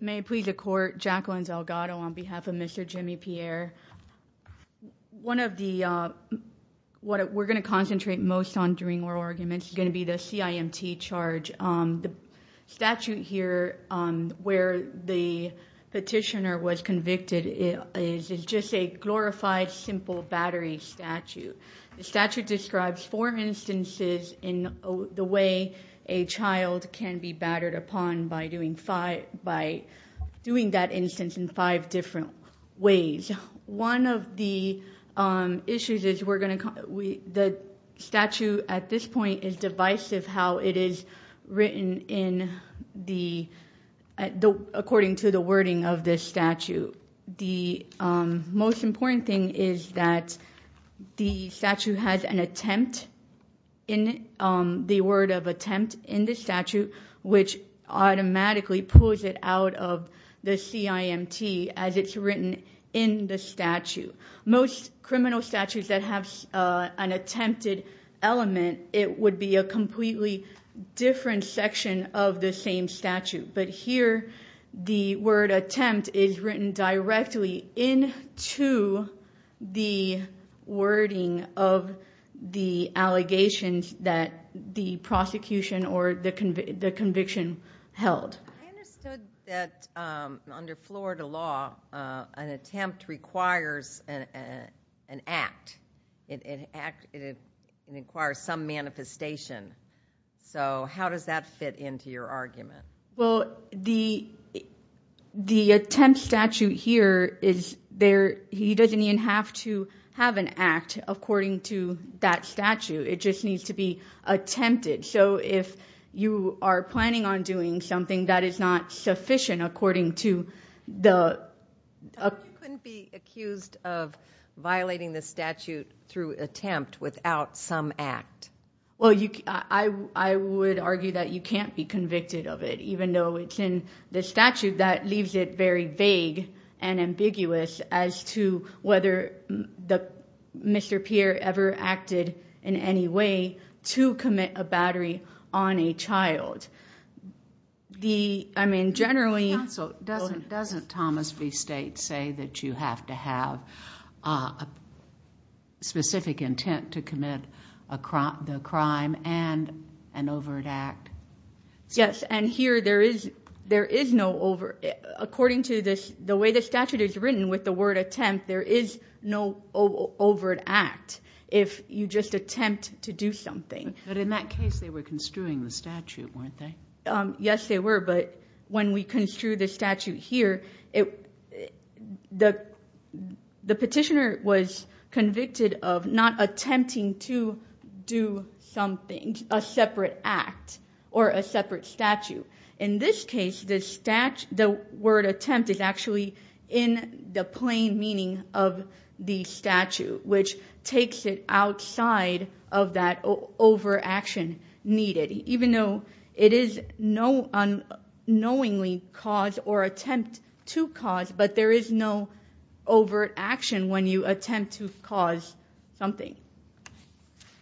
May it please the court, Jacqueline Zalgado on behalf of Mr. Jimmy Pierre. One of the, what we're going to concentrate most on during oral arguments is going to be the CIMT charge. The statute here where the petitioner was convicted is just a glorified simple battery statute. The statute describes four instances in the way a child can be battered upon by doing that instance in five different ways. One of the issues is the statute at this point is divisive how it is written according to the wording of this statute. The most important thing is that the statute has an attempt in it, the word of attempt in the statute which automatically pulls it out of the CIMT as it's written in the statute. Most criminal statutes that have an attempted element it would be a completely different section of the same statute but here the word attempt is written directly in to the wording of the allegations that the prosecution or the conviction held. I understood that under Florida law an attempt requires an attempt. The attempt statute here is there he doesn't even have to have an act according to that statute it just needs to be attempted so if you are planning on doing something that is not sufficient according to the... You couldn't be accused of violating the statute through attempt without some act. I would argue that you can't be convicted of it even though it's in the statute that leaves it very vague and ambiguous as to whether Mr. Pierre ever acted in any way to commit a battery on a child. I mean generally... So doesn't Thomas V State say that you have to have a specific intent to commit a crime and an overt act? Yes and here there is no over... According to this the way the statute is written with the word attempt there is no overt act if you just attempt to do something. But in that case they were construing the statute weren't they? Yes they were but when we construe the statute here the petitioner was convicted of not attempting to do something a separate act or a separate statute. In this case the word attempt is actually in the plain meaning of the statute which takes it outside of that over action needed. Even though it is no unknowingly caused or attempt to cause but there is no overt action when you attempt to cause something.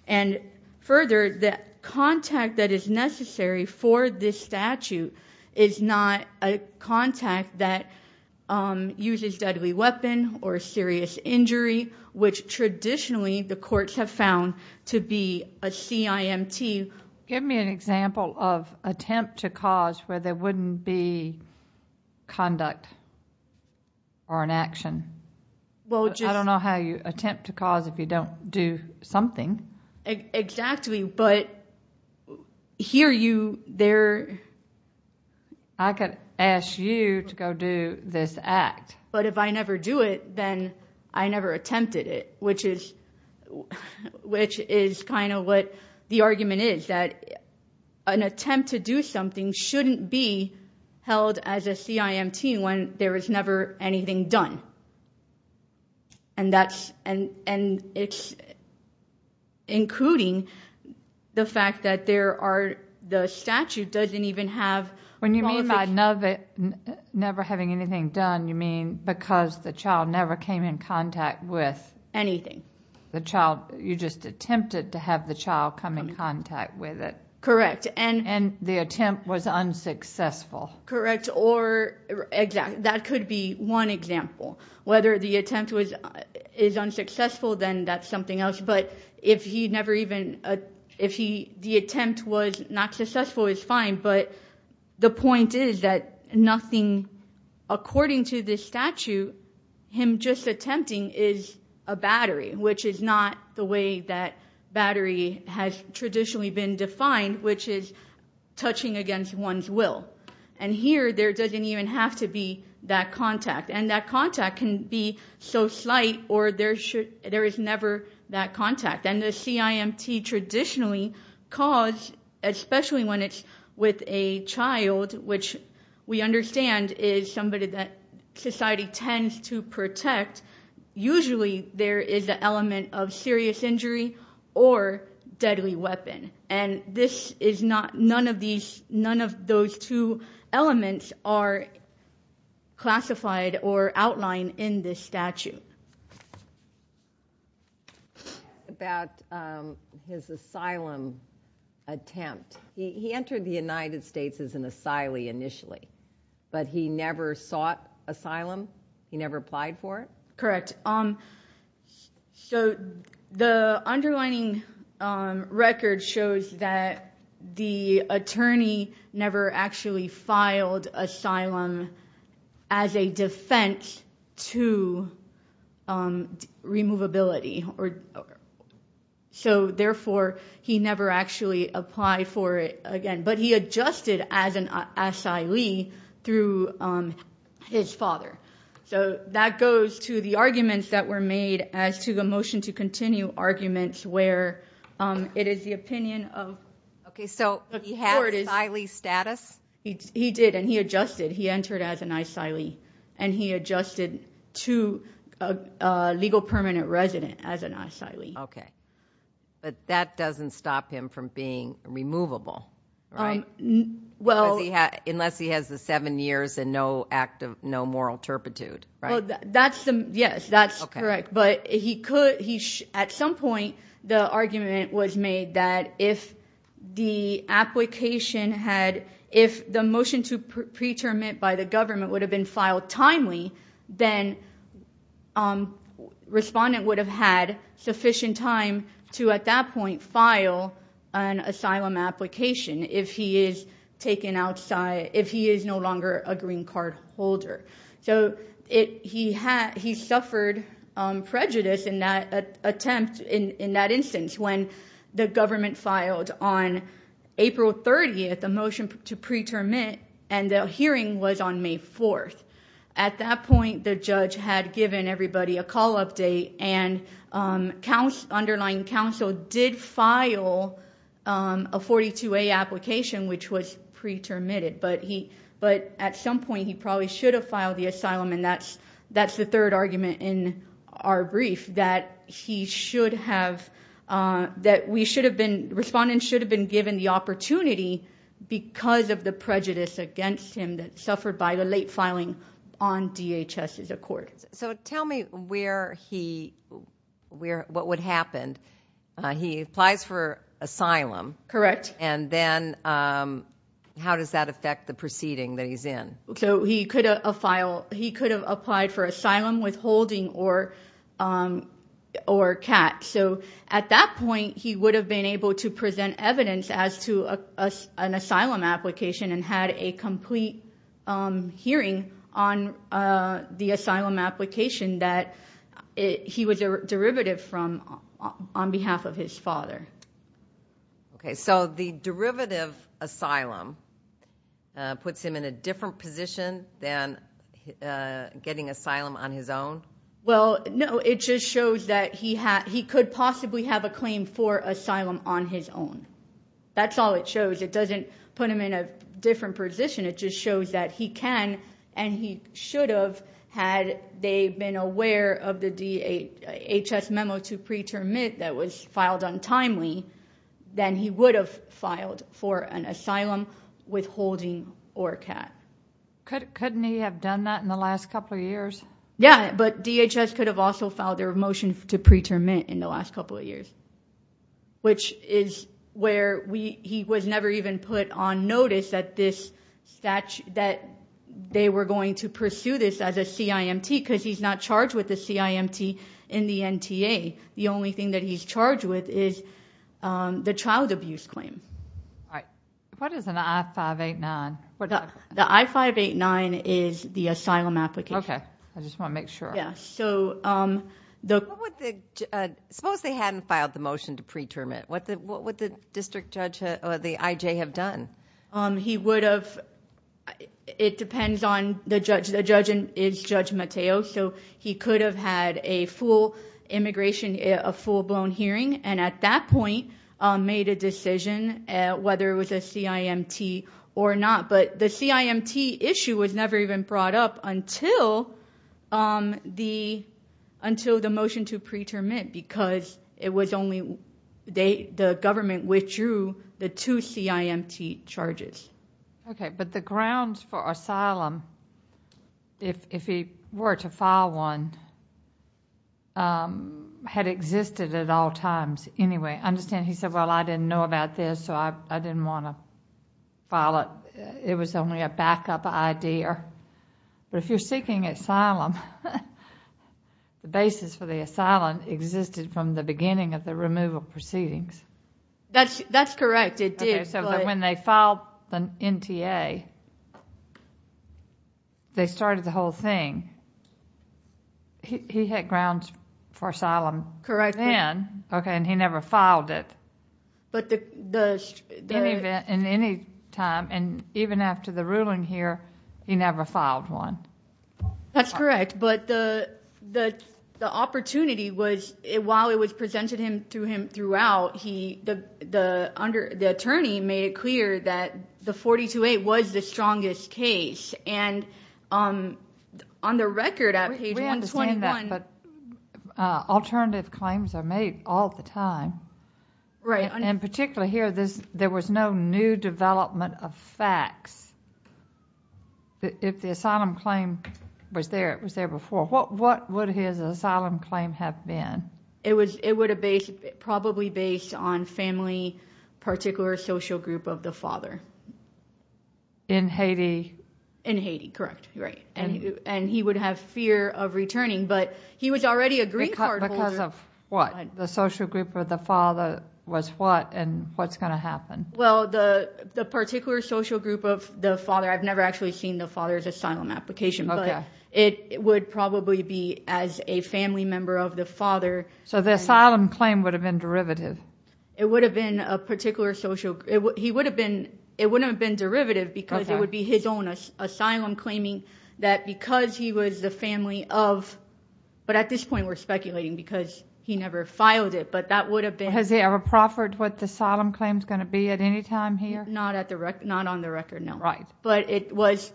And further the contact that is necessary for this statute is not a contact that uses deadly weapon or serious injury which traditionally the courts have found to be a CIMT. Give me an example of attempt to cause where there wouldn't be conduct or an action. I don't know how you attempt to cause if you don't do something. Exactly but here you there... I could ask you to go do this act. But if I never do it then I never attempted it which is which is kind of what the argument is that an attempt to do something shouldn't be held as a CIMT when there was never anything done. And that's and and it's including the fact that there are the statute doesn't even have... When you mean by never having anything done you mean because the child never came in contact with anything. The child you just attempted to have the child come in contact with it. Correct. And and the attempt was unsuccessful. Correct or exact that could be one example whether the attempt was is unsuccessful then that's something else but if he never even if he the attempt was not successful is fine but the point is that nothing according to this statute him attempting is a battery which is not the way that battery has traditionally been defined which is touching against one's will and here there doesn't even have to be that contact and that contact can be so slight or there should there is never that contact and the CIMT traditionally cause especially when it's with a child which we understand is somebody that society tends to protect usually there is an element of serious injury or deadly weapon and this is not none of these none of those two elements are classified or outline in this statute. About his asylum attempt he entered the United States as an asylee initially but he never sought asylum he never applied for it. So the underlining record shows that the attorney never actually filed asylum as a defense to removability or so therefore he never actually applied for it again but he adjusted as an asylee through his father so that goes to the arguments that were made as to the motion to continue arguments where it is the opinion of okay so he had asylee status he did and he adjusted he entered as an asylee and he adjusted to a legal permanent resident as an asylee. Okay but that doesn't stop him from being removable right? Well unless he has the seven years and no act of no moral turpitude right? That's yes that's correct but he could he at some point the argument was made that if the application had if the motion to preterm it by the government would have been filed timely then respondent would have had sufficient time to at that point file an asylum application if he is taken outside if he is no longer a green card holder so it he had he suffered prejudice in that attempt in that instance when the government filed on April 30th a motion to preterm it and the hearing was on May 4th at that point the judge had given everybody a call update and counts underlying counsel did file a 42a application which was pretermitted but he but at some point he probably should have filed the asylum and that's that's the third argument in our brief that he should have that we should have been respondents should have been given the opportunity because of the prejudice against him that suffered by the late filing on DHS is a court so tell me where he where what would happen he applies for asylum correct and then how does that affect the proceeding that he's in so he could a file he could have applied for asylum withholding or or cat so at that point he would have been able to present evidence as to us an asylum application and had a complete hearing on the asylum application that he was a derivative from on behalf of his father okay so the derivative asylum puts him in a different position than getting asylum on his well no it just shows that he had he could possibly have a claim for asylum on his own that's all it shows it doesn't put him in a different position it just shows that he can and he should have had they been aware of the DHS memo to preterm it that was filed untimely then he would have filed for an asylum withholding or cat couldn't he have done that in the last couple of years yeah but DHS could have also filed their motion to preterm in the last couple of years which is where we he was never even put on notice that this statue that they were going to pursue this as a CIMT because he's not charged with the CIMT in the NTA the only thing that he's is um the child abuse claim all right what is an i-589 well the i-589 is the asylum application okay i just want to make sure yeah so um the what would the suppose they hadn't filed the motion to preterm it what the what would the district judge or the ij have done um he would have it depends on the judge the judge is judge mateo so he could have had a full immigration a full-blown hearing and at that point made a decision uh whether it was a CIMT or not but the CIMT issue was never even brought up until um the until the motion to preterm it because it was only they the government withdrew the two CIMT charges okay but the grounds for asylum if if he were to file one um had existed at all times anyway understand he said well i didn't know about this so i i didn't want to file it it was only a backup idea but if you're seeking asylum the basis for the asylum existed from the beginning of the removal proceedings that's that's correct it did so when they filed the NTA they started the whole thing he had grounds for asylum correct then okay and he never filed it but the event in any time and even after the ruling here he never filed one that's correct but the the the opportunity was it while it was presented him to him throughout he the the under the attorney made it clear that the 42-8 was the strongest case and um on the record at page 121 alternative claims are made all the time right and particularly here this there was no new development of facts if the asylum claim was there it was there before what what would his asylum claim have been it was it would have based probably based on family particular social group of the father in haiti in haiti correct right and and he would have fear of returning but he was already a green card because of what the social group of the father was what and what's going to happen well the the particular social group of the father i've never actually seen the application but it would probably be as a family member of the father so the asylum claim would have been derivative it would have been a particular social it would he would have been it wouldn't have been derivative because it would be his own asylum claiming that because he was the family of but at this point we're speculating because he never filed it but that would have been has he ever proffered what the asylum claim is going to be at any time here not at the record not on the record no right but it was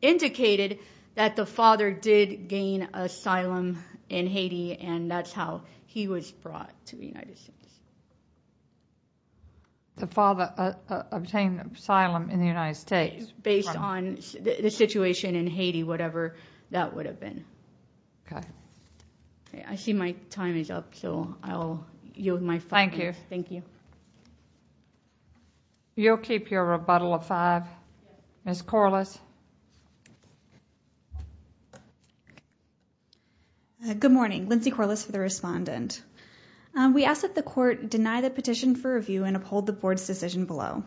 indicated that the father did gain asylum in haiti and that's how he was brought to the united states the father obtained asylum in the united states based on the situation in haiti whatever that would have been okay okay i see my time is up so i'll yield my thank you thank you you'll keep your rebuttal of five miss corliss good morning lindsey corliss for the respondent we ask that the court deny the petition for review and uphold the board's decision below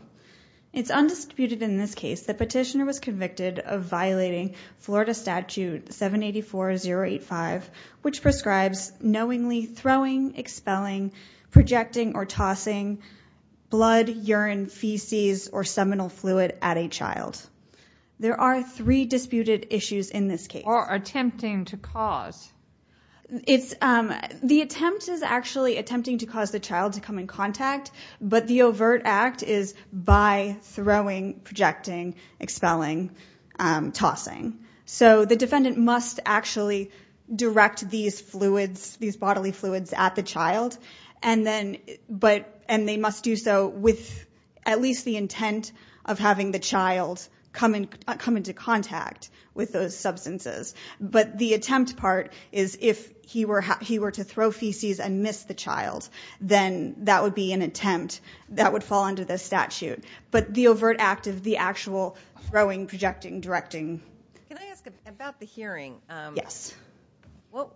it's undisputed in this case the petitioner was convicted of violating florida statute 784 085 which prescribes knowingly throwing expelling projecting or tossing blood urine feces or seminal fluid at a child there are three disputed issues in this case or attempting to cause it's um the attempt is actually attempting to cause the child to come in contact but the overt act is by throwing projecting expelling um tossing so the defendant must actually direct these fluids these bodily fluids at the child and then but and they must do so with at least the intent of having the child come and come into contact with those substances but the attempt part is if he were he were to throw feces and miss the child then that would be an attempt that would fall under the statute but the overt act of the actual throwing projecting directing can i ask about the hearing um yes well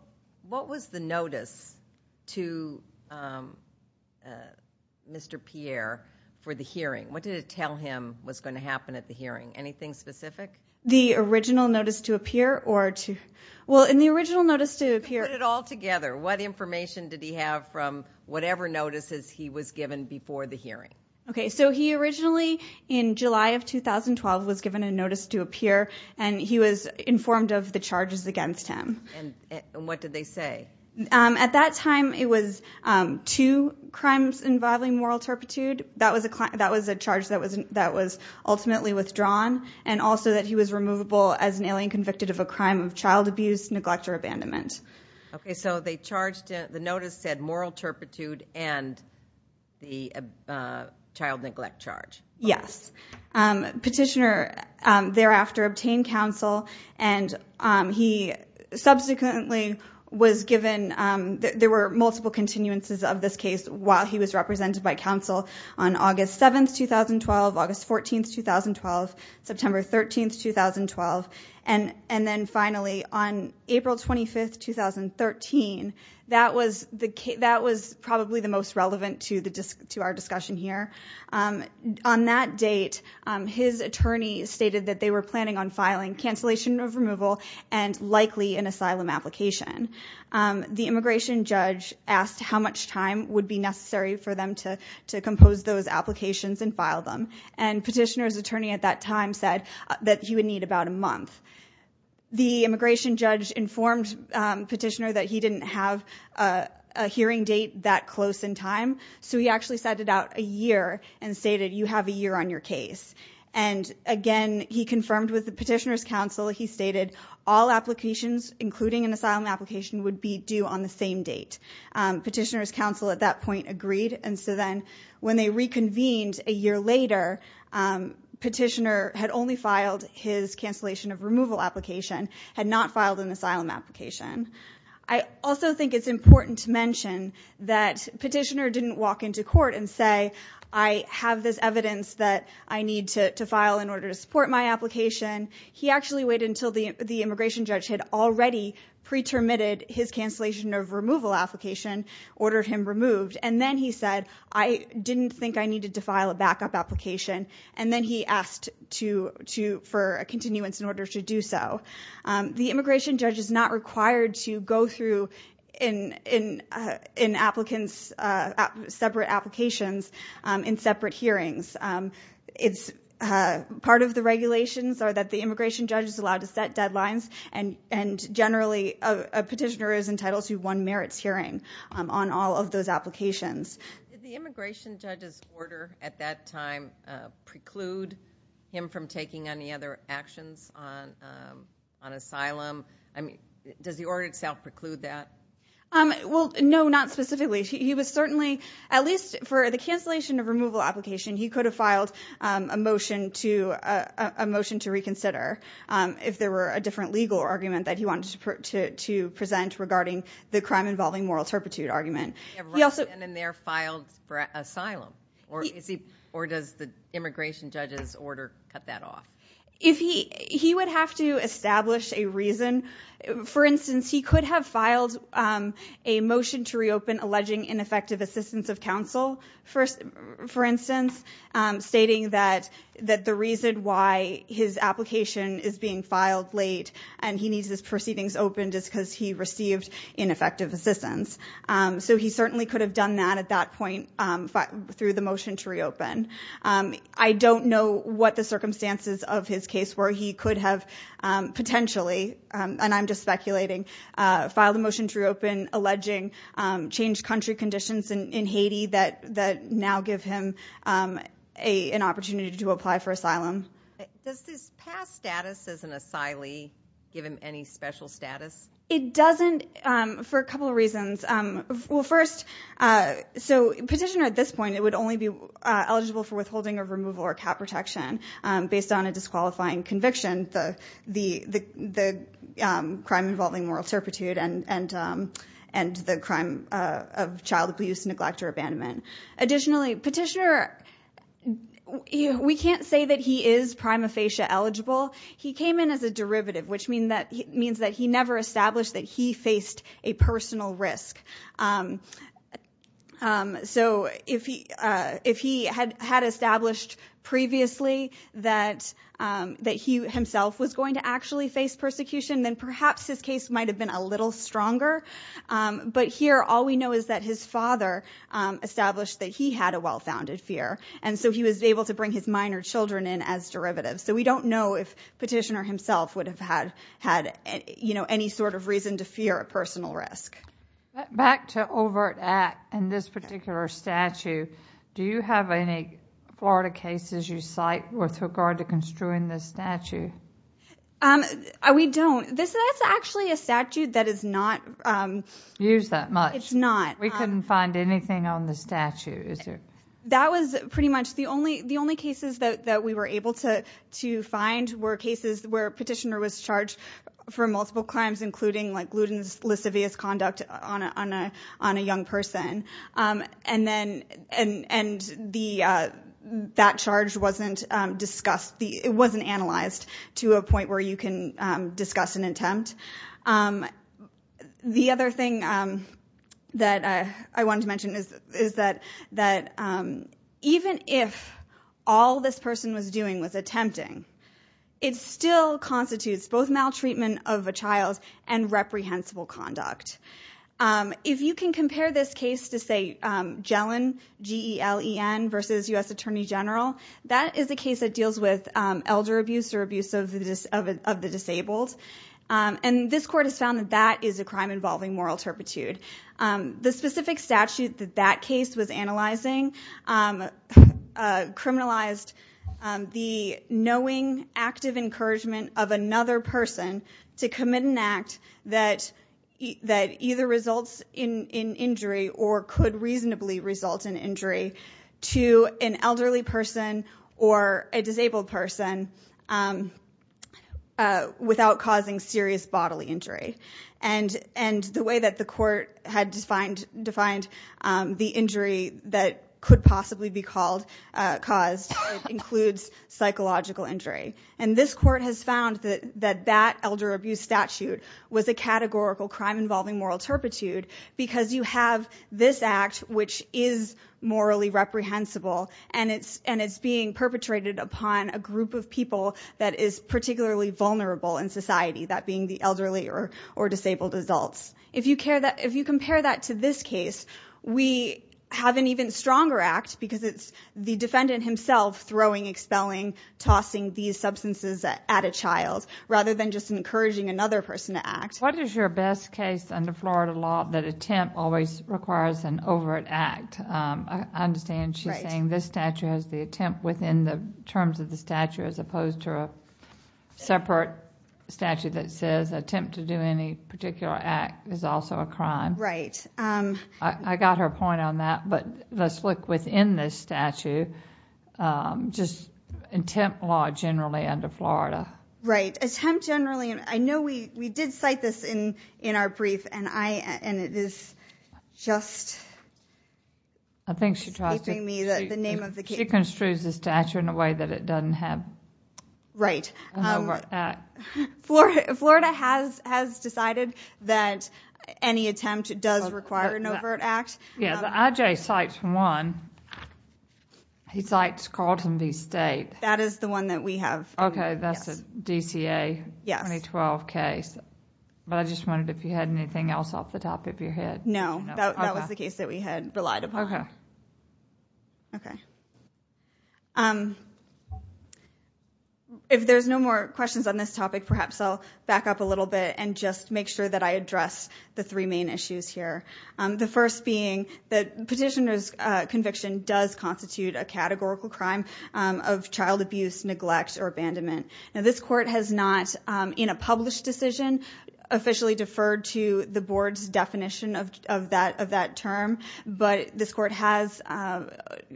what was the notice to um uh mr pierre for the hearing what did it tell him was going to happen at the hearing anything specific the original notice to appear or to well in the original notice to appear it all together what information did he have from whatever notices he was given before the hearing okay so he originally in july of 2012 was given a he was informed of the charges against him and what did they say um at that time it was um two crimes involving moral turpitude that was a client that was a charge that was that was ultimately withdrawn and also that he was removable as an alien convicted of a crime of child abuse neglect or abandonment okay so they charged the notice said moral turpitude and the uh child neglect charge yes um petitioner um thereafter obtained counsel and um he subsequently was given um there were multiple continuances of this case while he was represented by counsel on august 7th 2012 august 14th 2012 september 13th 2012 and and then finally on april 25th 2013 that was the that was probably the most relevant to the to our discussion here on that date his attorney stated that they were planning on filing cancellation of removal and likely an asylum application the immigration judge asked how much time would be necessary for them to to compose those applications and file them and petitioner's attorney at that time said that he would need about a month the immigration judge informed petitioner that he didn't have a hearing date that close in time so he actually sent it out a year and stated you have a year on your case and again he confirmed with the petitioner's counsel he stated all applications including an asylum application would be due on the same date petitioner's counsel at that his cancellation of removal application had not filed an asylum application i also think it's important to mention that petitioner didn't walk into court and say i have this evidence that i need to to file in order to support my application he actually waited until the the immigration judge had already pre-termitted his cancellation of removal application ordered him removed and then he said i didn't think i needed to file a backup application and then he to to for a continuance in order to do so the immigration judge is not required to go through in in in applicants uh separate applications um in separate hearings um it's uh part of the regulations are that the immigration judge is allowed to set deadlines and and generally a petitioner is entitled to one merits hearing on all of those applications did the immigration judge's order at that time preclude him from taking any other actions on um on asylum i mean does the order itself preclude that um well no not specifically he was certainly at least for the cancellation of removal application he could have filed um a motion to a motion to reconsider um if there were a different legal argument that he wanted to present regarding the crime asylum or is he or does the immigration judge's order cut that off if he he would have to establish a reason for instance he could have filed um a motion to reopen alleging ineffective assistance of counsel first for instance um stating that that the reason why his application is being filed late and he needs his proceedings open just because he received ineffective assistance um so he certainly could have done that at that point um through the motion to reopen um i don't know what the circumstances of his case were he could have um potentially um and i'm just speculating uh filed a motion to reopen alleging um changed country conditions in haiti that that now give him um a an opportunity to apply for asylum does this past status as an asylee give him any special status it doesn't um for a couple of reasons um well first uh so petitioner at this point it would only be eligible for withholding of removal or cap protection um based on a disqualifying conviction the the the um crime involving moral turpitude and and um and the crime uh of child abuse neglect or abandonment additionally petitioner we can't say that he is prima facie eligible he came in as a derivative which mean that means that he never established that he faced a personal risk um um so if he uh if he had had established previously that um that he himself was going to actually face persecution then perhaps his case might have been a little stronger um but here all we know is that his father um established that he had a well-founded fear and so he was able to bring his minor children in as derivatives so we don't know if petitioner himself would have had had you know any sort of reason to fear a personal risk back to overt act in this particular statue do you have any florida cases you cite with regard to construing this statue um we don't this that's actually a statute that is not um used that much not we couldn't find anything on the statue is there that was pretty much the only the only cases that that we were able to to find were cases where petitioner was charged for multiple crimes including like gluten lascivious conduct on a on a on a young person um and then and and the uh that charge wasn't um discussed the it wasn't analyzed to a point where you can um discuss an um the other thing um that i i wanted to mention is is that that um even if all this person was doing was attempting it still constitutes both maltreatment of a child and reprehensible conduct um if you can compare this case to say um jelen g-e-l-e-n versus u.s attorney general that is a and this court has found that that is a crime involving moral turpitude um the specific statute that that case was analyzing um uh criminalized um the knowing active encouragement of another person to commit an act that that either results in in injury or could reasonably result in injury to an elderly person or a disabled person um uh without causing serious bodily injury and and the way that the court had defined defined um the injury that could possibly be called uh caused includes psychological injury and this court has found that that that elder abuse statute was a categorical crime involving moral turpitude because you have this act which is morally reprehensible and it's and it's being perpetrated upon a group of people that is particularly vulnerable in society that being the elderly or or disabled adults if you care that if you compare that to this case we have an even stronger act because it's the defendant himself throwing expelling tossing these substances at a child rather than just encouraging another person to act what is your best case under florida law that attempt always requires an overt act um i understand she's saying this statute has the attempt within the terms of the statute as opposed to a separate statute that says attempt to do any particular act is also a crime right um i got her point on that but let's look within this statute um just attempt law generally under florida right attempt generally and i know we we did cite this in in our brief and i and it is just i think she tries to me that the name of the case construes the stature in a way that it doesn't have right um florida has has decided that any attempt does require an overt act yeah the ij cites one he cites carlton v state that is one that we have okay that's a dca yes 2012 case but i just wondered if you had anything else off the top of your head no that was the case that we had relied upon okay okay um if there's no more questions on this topic perhaps i'll back up a little bit and just make sure that i address the three main issues here um the first being that petitioner's uh conviction does constitute a categorical crime of child abuse neglect or abandonment now this court has not um in a published decision officially deferred to the board's definition of that of that term but this court has uh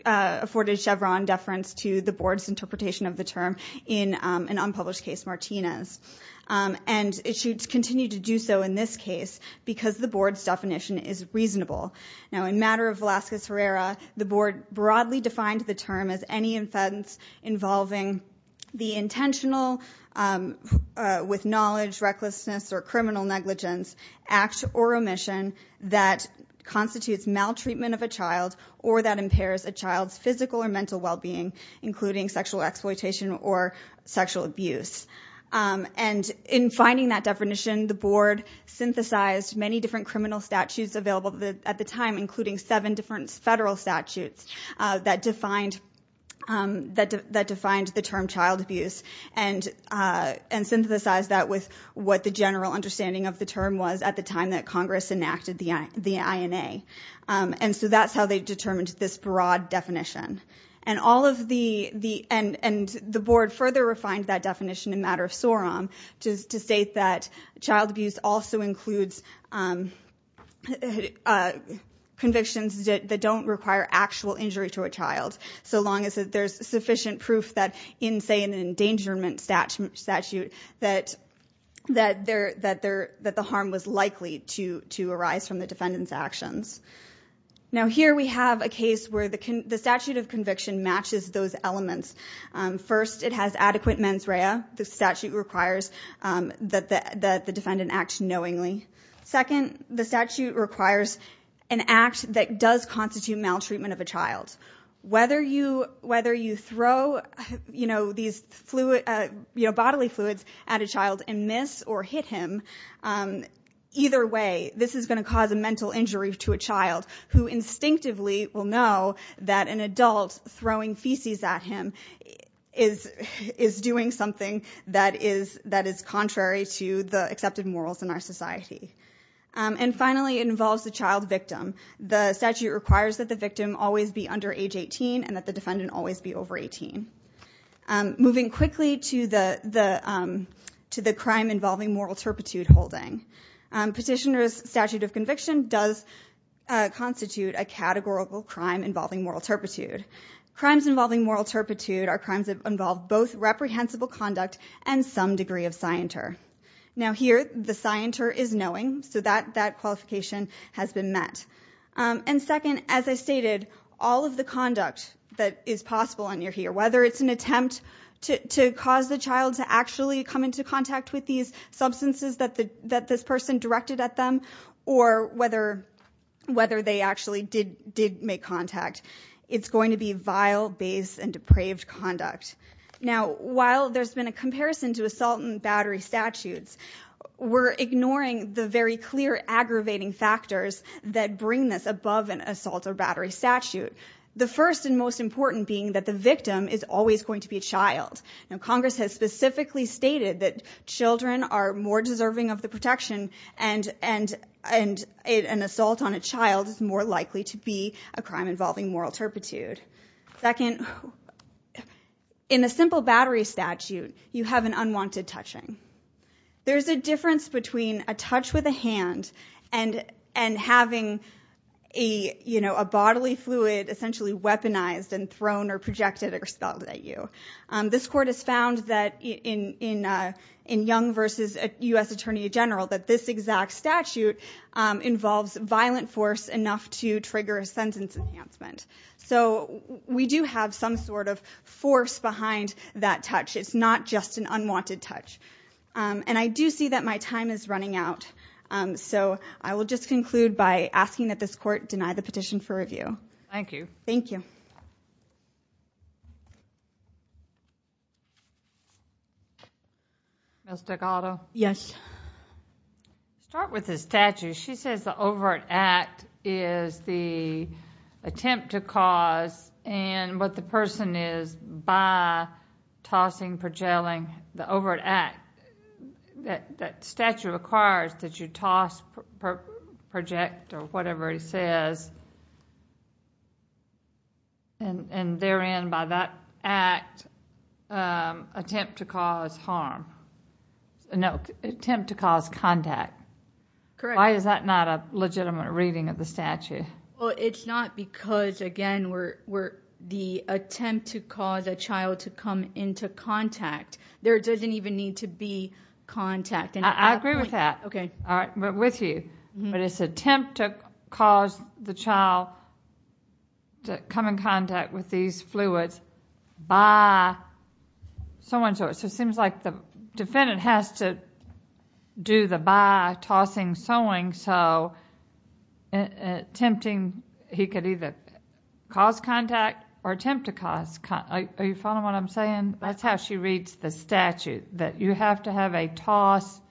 afforded chevron deference to the board's interpretation of the term in an unpublished case martinez and it should continue to do so in this case because the board's definition is the term as any offense involving the intentional um with knowledge recklessness or criminal negligence act or omission that constitutes maltreatment of a child or that impairs a child's physical or mental well-being including sexual exploitation or sexual abuse um and in finding that definition the board synthesized many different criminal statutes available at the time including seven different federal statutes uh that defined um that that defined the term child abuse and uh and synthesize that with what the general understanding of the term was at the time that congress enacted the the ina um and so that's how they determined this broad definition and all of the the and and the board further refined that definition in matter of sorum just to state that child abuse also includes um uh convictions that don't require actual injury to a child so long as that there's sufficient proof that in say an endangerment statute that that they're that they're that the harm was likely to to arise from the defendant's actions now here we have a case where the the statute of conviction matches those elements um first it has adequate mens rea the knowingly second the statute requires an act that does constitute maltreatment of a child whether you whether you throw you know these fluid uh you know bodily fluids at a child and miss or hit him um either way this is going to cause a mental injury to a child who instinctively will know that an adult throwing feces at him is is doing something that is that is contrary to the accepted morals in our society um and finally it involves the child victim the statute requires that the victim always be under age 18 and that the defendant always be over 18 um moving quickly to the the um to the crime involving moral turpitude holding um petitioner's statute of conviction does uh constitute a categorical crime involving moral turpitude crimes involving moral our crimes have involved both reprehensible conduct and some degree of scienter now here the scienter is knowing so that that qualification has been met um and second as i stated all of the conduct that is possible on your here whether it's an attempt to to cause the child to actually come into contact with these substances that the that this person directed at them or whether whether they actually did did make contact it's going to be vile base and depraved conduct now while there's been a comparison to assault and battery statutes we're ignoring the very clear aggravating factors that bring this above an assault or battery statute the first and most important being that the victim is always going to be a child now congress has specifically stated that and an assault on a child is more likely to be a crime involving moral turpitude second in a simple battery statute you have an unwanted touching there's a difference between a touch with a hand and and having a you know a bodily fluid essentially weaponized and thrown or projected or spelled at you um this court has found that in in uh in young versus a u.s attorney general that this exact statute um involves violent force enough to trigger a sentence enhancement so we do have some sort of force behind that touch it's not just an unwanted touch um and i do see that my time is running out um so i will just conclude by asking that this court deny the start with the statue she says the overt act is the attempt to cause and what the person is by tossing perjailing the overt act that that statue requires that you toss project or whatever he says and and therein by that act um attempt to cause harm no attempt to cause contact why is that not a legitimate reading of the statute well it's not because again we're we're the attempt to cause a child to come into contact there doesn't even need to be contact and i agree okay all right but with you but it's attempt to cause the child to come in contact with these fluids by someone so it seems like the defendant has to do the by tossing sewing so tempting he could either cause contact or attempt to cause are you following what i'm saying that's a toss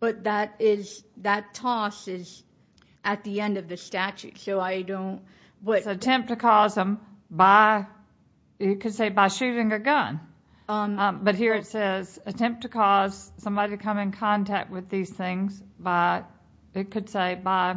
but that is that toss is at the end of the statute so i don't what attempt to cause them by you could say by shooting a gun um but here it says attempt to cause somebody to come in contact with these things by it could say by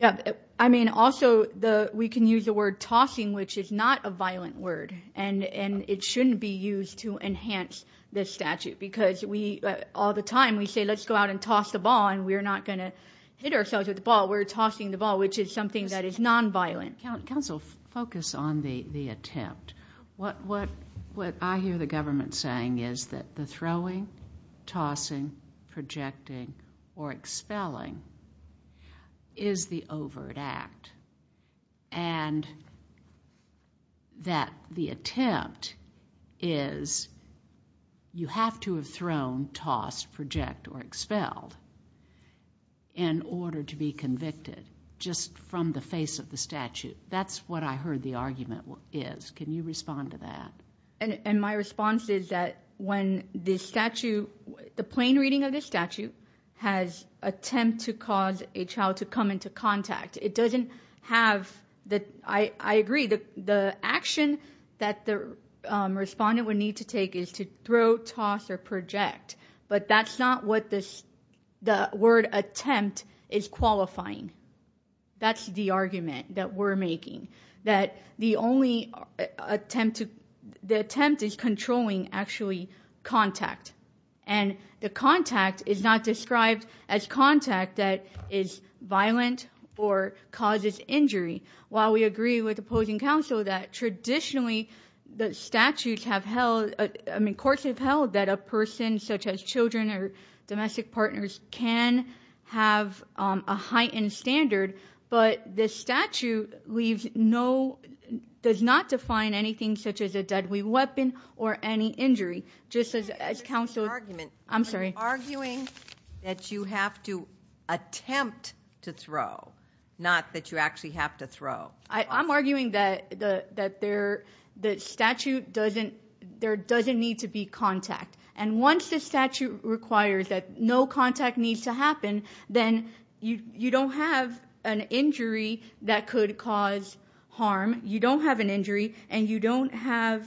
yeah i mean also the we can use the word tossing which is not a violent word and and it shouldn't be used to enhance this statute because we all the time we say let's go out and toss the ball and we're not going to hit ourselves with the ball we're tossing the ball which is something that is non-violent council focus on the the attempt what what what i hear the government saying is that the throwing tossing projecting or expelling is the overt act and that the attempt is you have to have thrown tossed project or expelled in order to be convicted just from the face of the statute that's what i heard the argument is can you respond to that and and my response is that when this statute the plain reading of this statute has attempt to cause a to throw toss or project but that's not what this the word attempt is qualifying that's the argument that we're making that the only attempt to the attempt is controlling actually contact and the contact is not described as contact that is violent or causes injury while we agree with opposing counsel that traditionally the statutes have held i mean courts have held that a person such as children or domestic partners can have a heightened standard but this statute leaves no does not define anything such as a deadly weapon or any injury just as counsel's argument i'm sorry arguing that you have to attempt to throw not that you actually have to throw i i'm arguing that the that there the statute doesn't there doesn't need to be contact and once the statute requires that no contact needs to happen then you you don't have an injury that could cause harm you don't have an injury and you don't have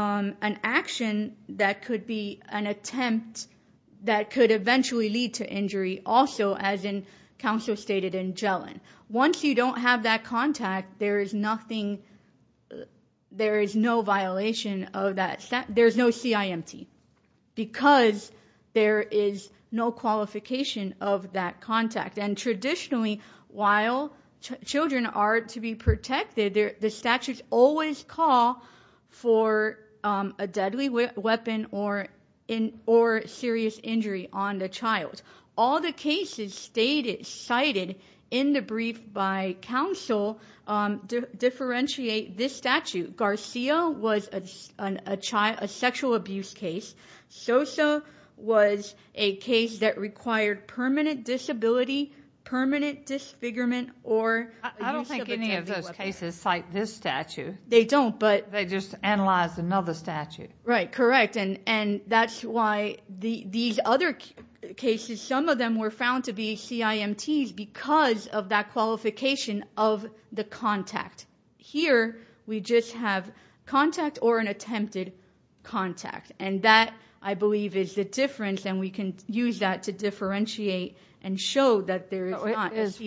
um an action that could be an attempt that could eventually lead to injury also as in counsel stated in jelen once you don't have that contact there is nothing there is no violation of that there's no cimt because there is no qualification of that contact and traditionally while children are to be protected there the statutes always call for um a deadly weapon or in or serious injury on the child all the cases stated cited in the brief by counsel um differentiate this statute garcia was a child a sexual abuse case so so was a case that required permanent disability permanent disfigurement or i don't think any of those cases cite this statute they don't but they just analyze another statute right correct and and that's why the these other cases some of them were found to be cimts because of that qualification of the contact here we just have contact or an attempted contact and that i believe is the difference and we can use that to differentiate and show that there is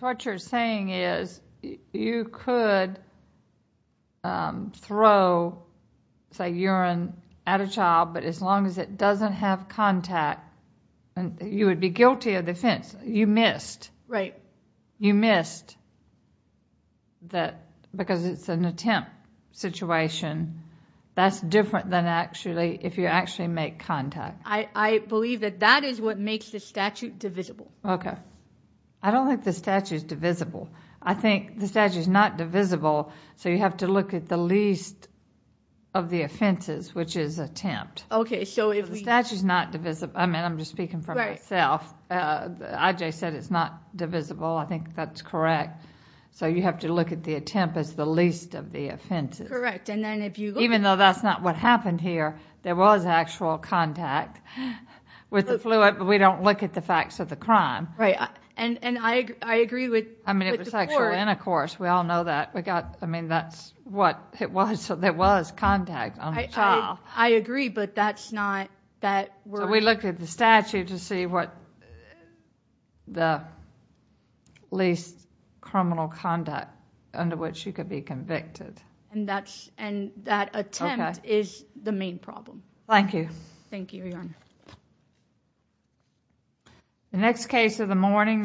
what you're saying is you could um throw say urine at a child but as long as it doesn't have contact and you would be guilty of defense you missed right you missed that because it's an attempt situation that's different than actually if you actually make contact i i believe that that is what makes the statute divisible okay i don't think the statute is divisible i think the statute is not divisible so you have to look at the least of the offenses which is attempt okay so if the statute is not divisible i mean i'm just speaking for myself uh i just said it's not divisible i think that's correct so you have to look at the attempt as the least of the offenses correct and then if you even though that's not what happened here there was actual contact with the fluid but we don't look at the facts of the crime right and and i i agree with i mean it was sexual intercourse we all know that we got i mean that's what it was so there was contact i agree but that's not that we looked at the statute to see what the least criminal conduct under which you could be convicted and that's and that attempt is the main problem thank you thank you your honor the next case of the morning